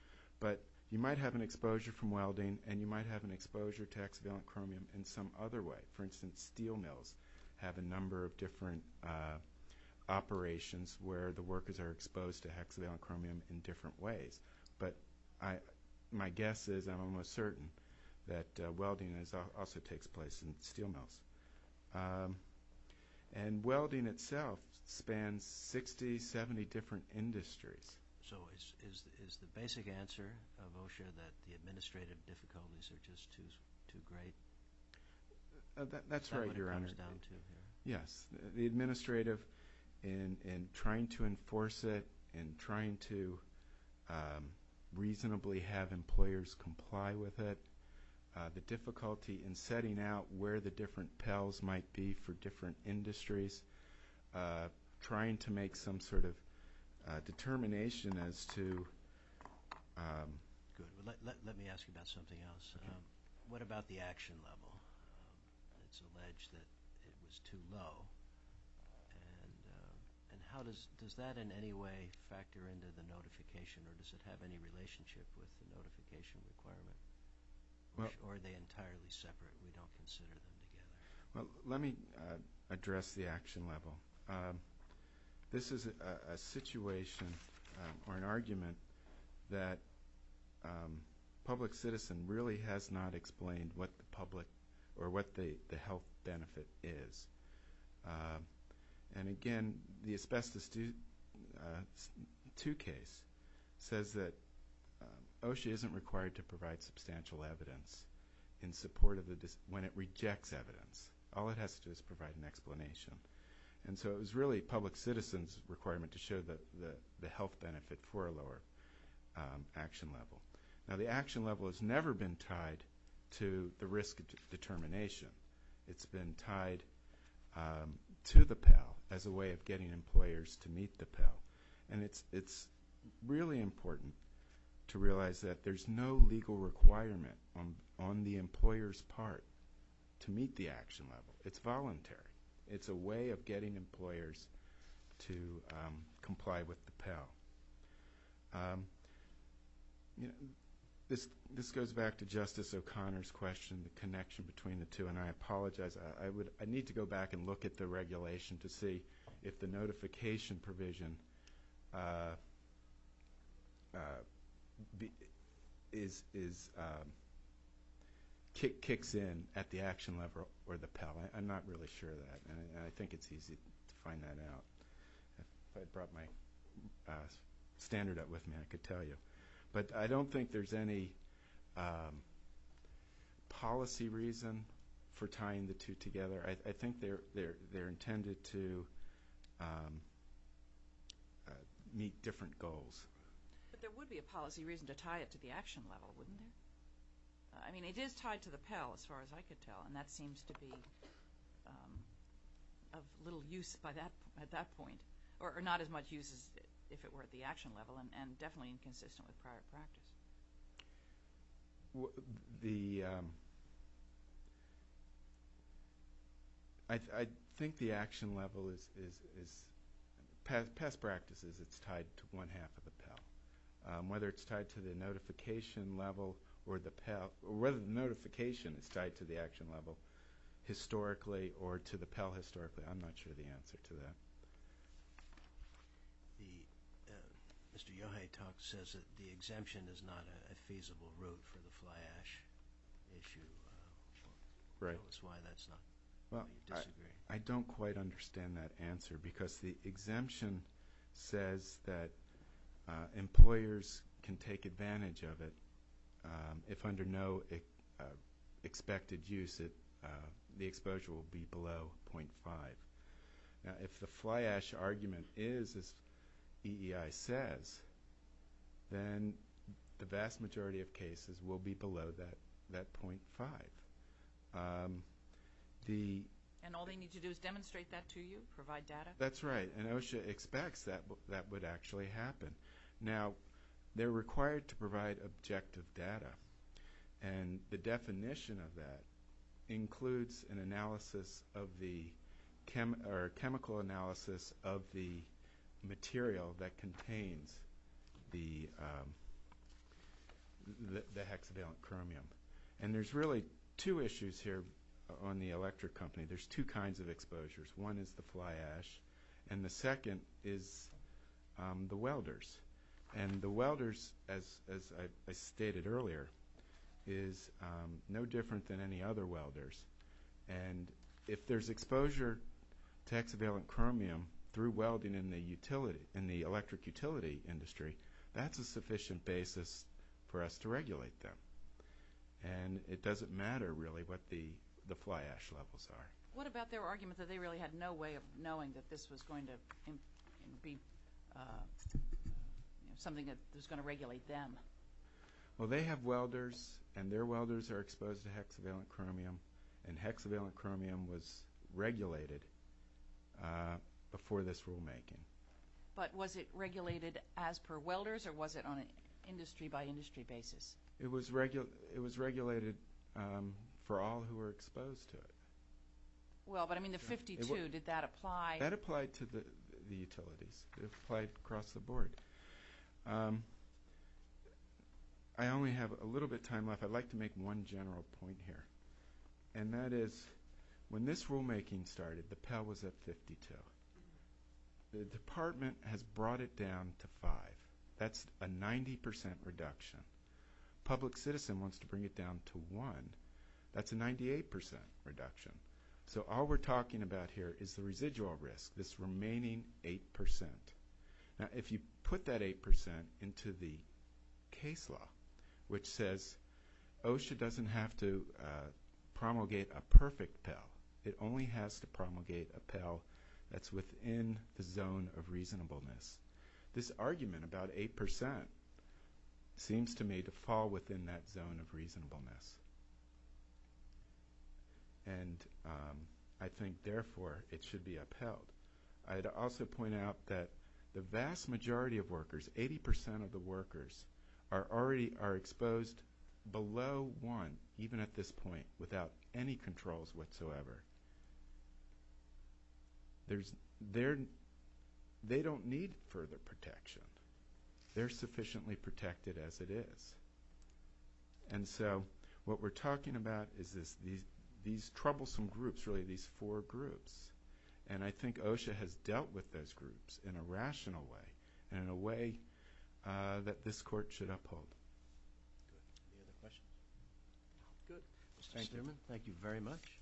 But you might have an exposure from welding, and you might have an exposure to hexavalent chromium in some other way. For instance, steel mills have a number of different operations where the workers are exposed to hexavalent chromium in different ways. But my guess is, I'm almost certain, that welding also takes place in steel mills. And welding itself spans 60, 70 different industries. So is the basic answer of OSHA that the administrative difficulties are just too great? That's right, Your Honor. That's what it comes down to. Yes. The administrative, in trying to enforce it, in trying to reasonably have employers comply with it, the difficulty in setting out where the different PELs might be for different industries, trying to make some sort of determination as to – Good. Let me ask you about something else. Okay. What about the action level? It's alleged that it was too low. And how does that in any way factor into the notification, or does it have any relationship with the notification requirement? Or are they entirely separate? We don't consider them together. Well, let me address the action level. This is a situation, or an argument, that public citizen really has not explained what the health benefit is. And again, the asbestos 2 case says that OSHA isn't required to provide substantial evidence when it rejects evidence. All it has to do is provide an explanation. And so it was really public citizen's requirement to show the health benefit for a lower action level. Now, the action level has never been tied to the risk determination. It's been tied to the PEL as a way of getting employers to meet the PEL. And it's really important to realize that there's no legal requirement on the employer's part to meet the action level. It's voluntary. It's a way of getting employers to comply with the PEL. This goes back to Justice O'Connor's question, the connection between the two. And I apologize. I need to go back and look at the regulation to see if the notification provision kicks in at the action level or the PEL. I'm not really sure of that. And I think it's easy to find that out. If I brought my standard up with me, I could tell you. But I don't think there's any policy reason for tying the two together. I think they're intended to meet different goals. But there would be a policy reason to tie it to the action level, wouldn't there? I mean, it is tied to the PEL, as far as I could tell. And that seems to be of little use at that point, or not as much use as if it were at the action level, and definitely inconsistent with prior practice. I think the action level is, past practices, it's tied to one half of the PEL. Whether it's tied to the notification level or the PEL, or whether the notification is tied to the action level historically or to the PEL historically, I'm not sure of the answer to that. The Mr. Yohei talk says that the exemption is not a feasible route for the fly ash issue. Right. That's why that's not why you disagree. I don't quite understand that answer, because the exemption says that employers can take advantage of it if under no expected use the exposure will be below 0.5. If the fly ash argument is, as EEI says, then the vast majority of cases will be below that 0.5. And all they need to do is demonstrate that to you, provide data? That's right, and OSHA expects that that would actually happen. Now, they're required to provide objective data, and the definition of that includes a chemical analysis of the material that contains the hexavalent chromium. And there's really two issues here on the electric company. There's two kinds of exposures. One is the fly ash, and the second is the welders. And the welders, as I stated earlier, is no different than any other welders. And if there's exposure to hexavalent chromium through welding in the electric utility industry, that's a sufficient basis for us to regulate them. And it doesn't matter, really, what the fly ash levels are. What about their argument that they really had no way of knowing that this was going to be something that was going to regulate them? Well, they have welders, and their welders are exposed to hexavalent chromium, and hexavalent chromium was regulated before this rulemaking. But was it regulated as per welders, or was it on an industry-by-industry basis? It was regulated for all who were exposed to it. Well, but, I mean, the 52, did that apply? That applied to the utilities. It applied across the board. I only have a little bit of time left. I'd like to make one general point here, and that is when this rulemaking started, the Pell was at 52. The department has brought it down to 5. That's a 90% reduction. Public Citizen wants to bring it down to 1. That's a 98% reduction. So all we're talking about here is the residual risk, this remaining 8%. Now, if you put that 8% into the case law, which says OSHA doesn't have to promulgate a perfect Pell. It only has to promulgate a Pell that's within the zone of reasonableness. This argument about 8% seems to me to fall within that zone of reasonableness. And I think, therefore, it should be upheld. I'd also point out that the vast majority of workers, 80% of the workers, are already exposed below 1, even at this point, without any controls whatsoever. They don't need further protection. They're sufficiently protected as it is. And so what we're talking about is these troublesome groups, really, these four groups. And I think OSHA has dealt with those groups in a rational way and in a way that this Court should uphold. Any other questions? Good. Mr. Stierman, thank you very much.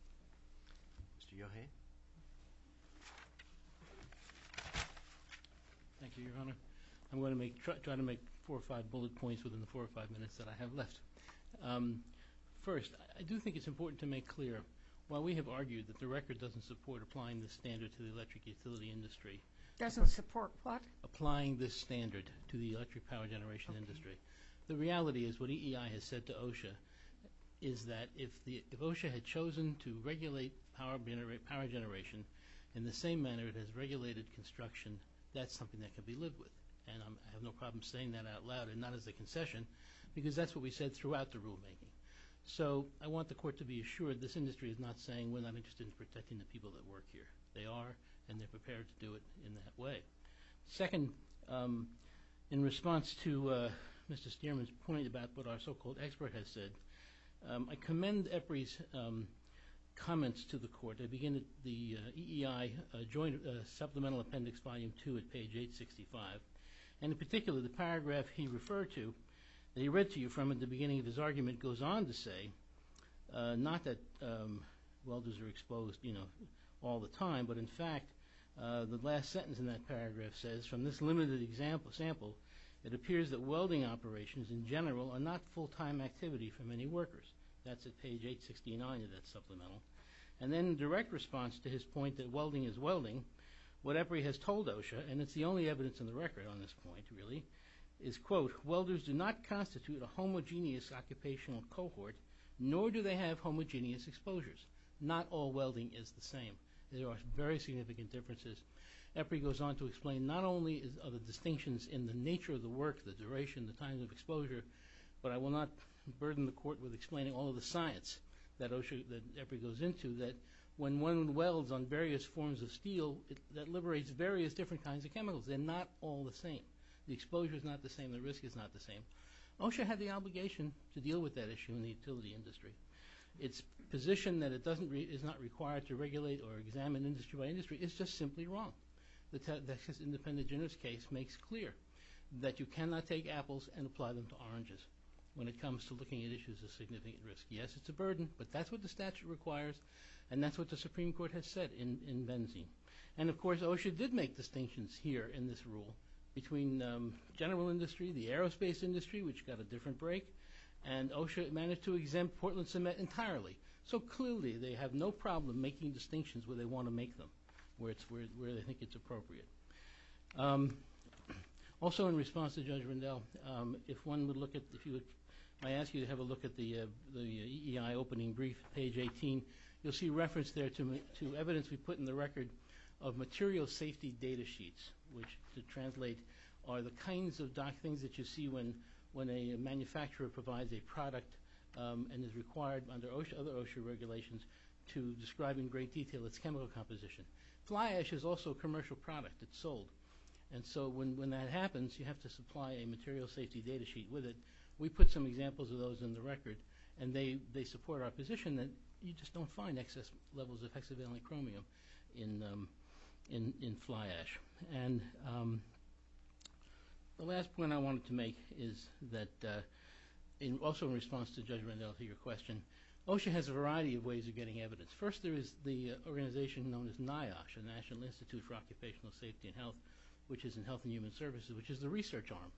Mr. Yohei? Thank you, Your Honor. I'm going to try to make four or five bullet points within the four or five minutes that I have left. First, I do think it's important to make clear, while we have argued that the record doesn't support applying this standard to the electric utility industry. Doesn't support what? Applying this standard to the electric power generation industry. Okay. The reality is what EEI has said to OSHA is that if OSHA had chosen to regulate power generation in the same manner it has regulated construction, that's something that could be lived with. And I have no problem saying that out loud, and not as a concession, because that's what we said throughout the rulemaking. So I want the Court to be assured this industry is not saying we're not interested in protecting the people that work here. They are, and they're prepared to do it in that way. Second, in response to Mr. Stearman's point about what our so-called expert has said, I commend EPRI's comments to the Court. They begin at the EEI supplemental appendix, volume two, at page 865. And in particular, the paragraph he referred to, that he read to you from at the beginning of his argument, goes on to say, not that welders are exposed, you know, all the time, but in fact the last sentence in that paragraph says, from this limited sample it appears that welding operations in general are not full-time activity for many workers. That's at page 869 of that supplemental. And then in direct response to his point that welding is welding, what EPRI has told OSHA, and it's the only evidence on the record on this point really, is, quote, welders do not constitute a homogeneous occupational cohort, nor do they have homogeneous exposures. Not all welding is the same. There are very significant differences. EPRI goes on to explain not only are the distinctions in the nature of the work, the duration, the time of exposure, but I will not burden the Court with explaining all of the science that EPRI goes into, that when one welds on various forms of steel, that liberates various different kinds of chemicals. They're not all the same. The exposure is not the same. The risk is not the same. OSHA had the obligation to deal with that issue in the utility industry. Its position that it is not required to regulate or examine industry by industry is just simply wrong. The Texas independent generous case makes clear that you cannot take apples and apply them to oranges when it comes to looking at issues of significant risk. Yes, it's a burden, but that's what the statute requires, and that's what the Supreme Court has said in Benzene. And, of course, OSHA did make distinctions here in this rule between general industry, the aerospace industry, which got a different break, and OSHA managed to exempt Portland Cement entirely. So, clearly, they have no problem making distinctions where they want to make them, where they think it's appropriate. Also, in response to Judge Rundell, if one would look at the few that I asked you to have a look at the EEI opening brief, page 18, you'll see reference there to evidence we put in the record of material safety data sheets, which, to translate, are the kinds of dark things that you see when a manufacturer provides a product and is required under other OSHA regulations to describe in great detail its chemical composition. Fly ash is also a commercial product. It's sold. And so when that happens, you have to supply a material safety data sheet with it. We put some examples of those in the record, and they support our position that you just don't find excess levels of hexavalent chromium in fly ash. And the last point I wanted to make is that also in response to Judge Rundell to your question, OSHA has a variety of ways of getting evidence. First, there is the organization known as NIOSH, the National Institute for Occupational Safety and Health, which is in Health and Human Services, which is the research arm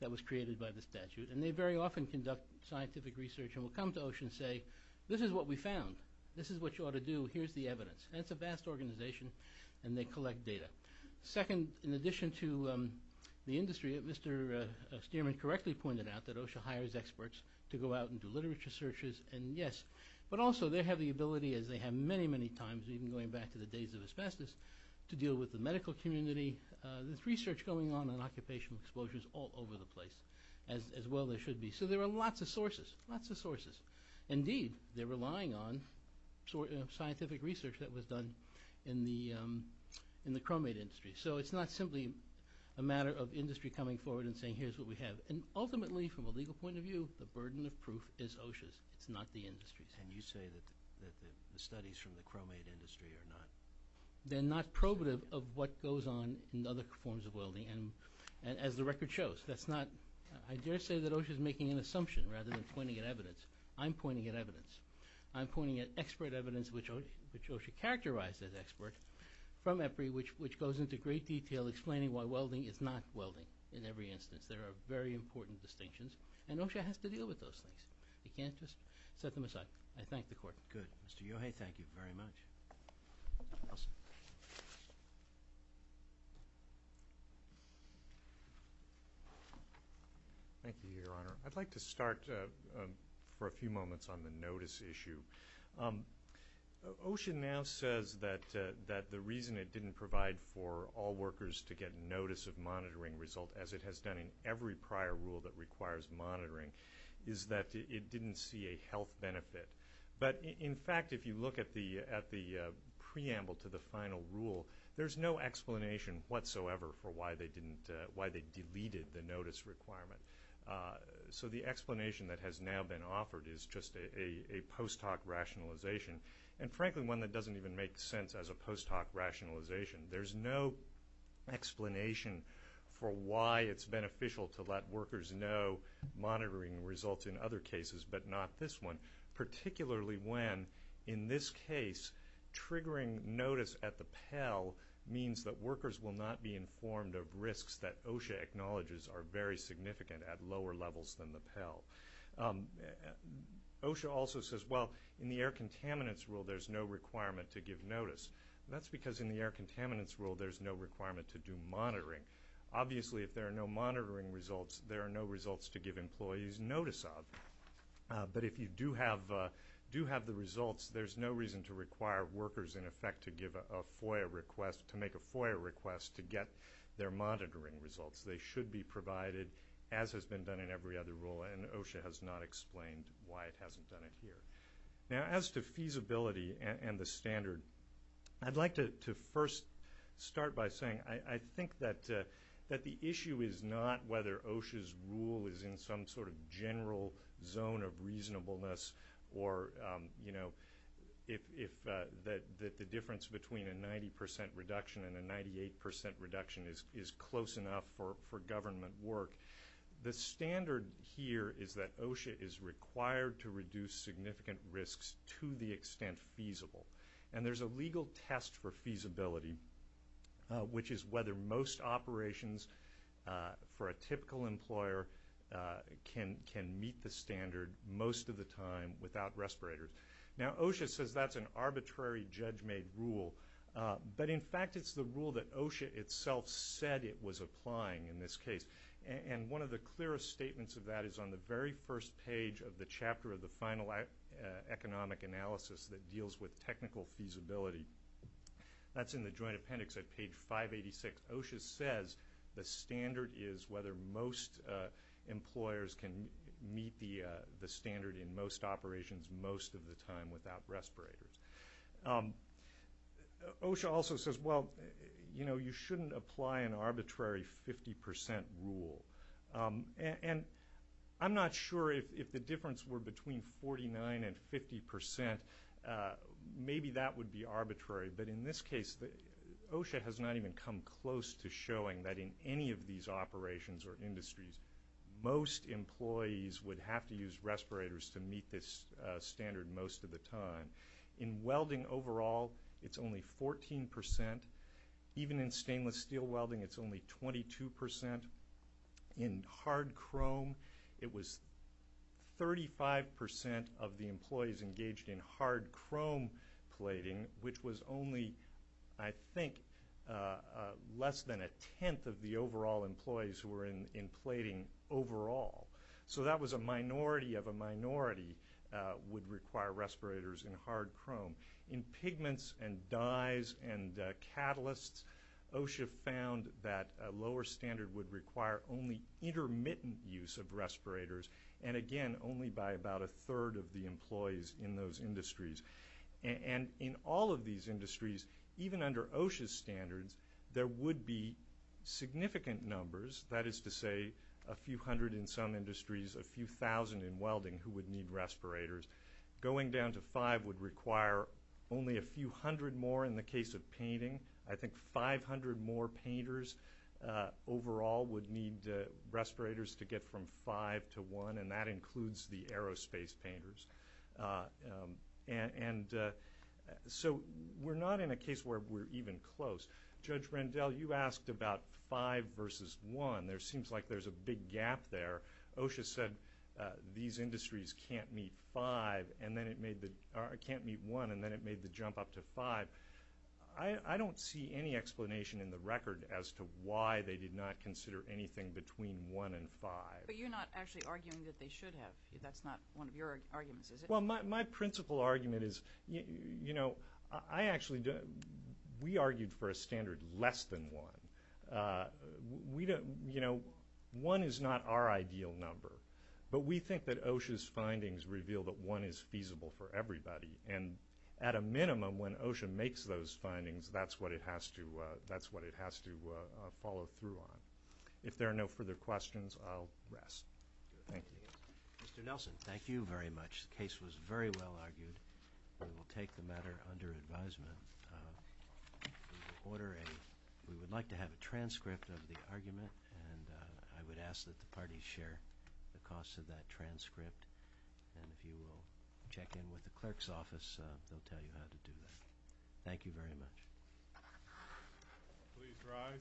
that was created by the statute. And they very often conduct scientific research and will come to OSHA and say, This is what we found. This is what you ought to do. Here's the evidence. And it's a vast organization, and they collect data. Second, in addition to the industry, Mr. Stearman correctly pointed out that OSHA hires experts to go out and do literature searches, and yes. But also they have the ability, as they have many, many times, even going back to the days of asbestos, to deal with the medical community. There's research going on on occupational exposures all over the place, as well as there should be. So there are lots of sources, lots of sources. Indeed, they're relying on scientific research that was done in the chromate industry. So it's not simply a matter of industry coming forward and saying, Here's what we have. And ultimately, from a legal point of view, the burden of proof is OSHA's. It's not the industry's. And you say that the studies from the chromate industry are not? They're not probative of what goes on in other forms of welding, as the record shows. I dare say that OSHA is making an assumption rather than pointing at evidence. I'm pointing at evidence. I'm pointing at expert evidence, which OSHA characterized as expert, from EPRI, which goes into great detail explaining why welding is not welding in every instance. There are very important distinctions, and OSHA has to deal with those things. You can't just set them aside. I thank the Court. Good. Mr. Yohei, thank you very much. Thank you, Your Honor. I'd like to start for a few moments on the notice issue. OSHA now says that the reason it didn't provide for all workers to get notice of monitoring result, as it has done in every prior rule that requires monitoring, is that it didn't see a health benefit. But, in fact, if you look at the preamble to the final rule, there's no explanation whatsoever for why they deleted the notice requirement. So the explanation that has now been offered is just a post hoc rationalization, and frankly one that doesn't even make sense as a post hoc rationalization. There's no explanation for why it's beneficial to let workers know monitoring results in other cases, but not this one, particularly when, in this case, triggering notice at the Pell means that workers will not be informed of risks that OSHA acknowledges are very significant at lower levels than the Pell. OSHA also says, well, in the air contaminants rule, there's no requirement to give notice. That's because in the air contaminants rule, there's no requirement to do monitoring. Obviously, if there are no monitoring results, there are no results to give employees notice of. But if you do have the results, there's no reason to require workers, in effect, to make a FOIA request to get their monitoring results. They should be provided, as has been done in every other rule, and OSHA has not explained why it hasn't done it here. Now, as to feasibility and the standard, I'd like to first start by saying, I think that the issue is not whether OSHA's rule is in some sort of general zone of reasonableness or that the difference between a 90% reduction and a 98% reduction is close enough for government work. The standard here is that OSHA is required to reduce significant risks to the extent feasible, and there's a legal test for feasibility, which is whether most operations for a typical employer can meet the standard most of the time without respirators. Now, OSHA says that's an arbitrary, judge-made rule, but in fact it's the rule that OSHA itself said it was applying in this case, and one of the clearest statements of that is on the very first page of the chapter of the final economic analysis that deals with technical feasibility. That's in the joint appendix at page 586. OSHA says the standard is whether most employers can meet the standard in most operations most of the time without respirators. OSHA also says, well, you know, you shouldn't apply an arbitrary 50% rule, and I'm not sure if the difference were between 49% and 50%, maybe that would be arbitrary, but in this case OSHA has not even come close to showing that in any of these operations or industries most employees would have to use respirators to meet this standard most of the time. In welding overall it's only 14%. Even in stainless steel welding it's only 22%. In hard chrome it was 35% of the employees engaged in hard chrome plating, which was only, I think, less than a tenth of the overall employees who were in plating overall. So that was a minority of a minority would require respirators in hard chrome. In pigments and dyes and catalysts OSHA found that a lower standard would require only intermittent use of respirators, and again, only by about a third of the employees in those industries. And in all of these industries, even under OSHA's standards, there would be significant numbers, that is to say a few hundred in some industries, a few thousand in welding who would need respirators. Going down to five would require only a few hundred more in the case of painting. I think 500 more painters overall would need respirators to get from five to one, and that includes the aerospace painters. And so we're not in a case where we're even close. Judge Rendell, you asked about five versus one. There seems like there's a big gap there. OSHA said these industries can't meet one and then it made the jump up to five. I don't see any explanation in the record as to why they did not consider anything between one and five. But you're not actually arguing that they should have. That's not one of your arguments, is it? Well, my principal argument is, you know, we argued for a standard less than one. One is not our ideal number, but we think that OSHA's findings reveal that one is feasible for everybody. And at a minimum, when OSHA makes those findings, that's what it has to follow through on. If there are no further questions, I'll rest. Thank you. Mr. Nelson, thank you very much. The case was very well argued. We will take the matter under advisement. We would like to have a transcript of the argument, and I would ask that the parties share the cost of that transcript. And if you will check in with the clerk's office, they'll tell you how to do that. Thank you very much. Please rise.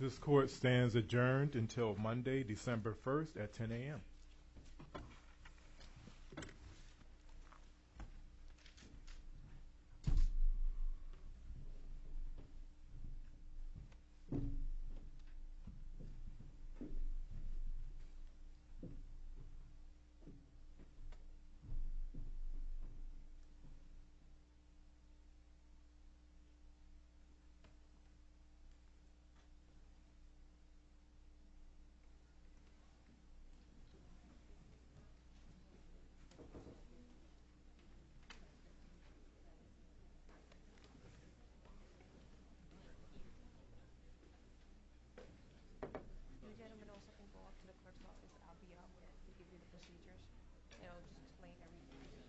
This court stands adjourned until Monday, December 1st, at 10 a.m.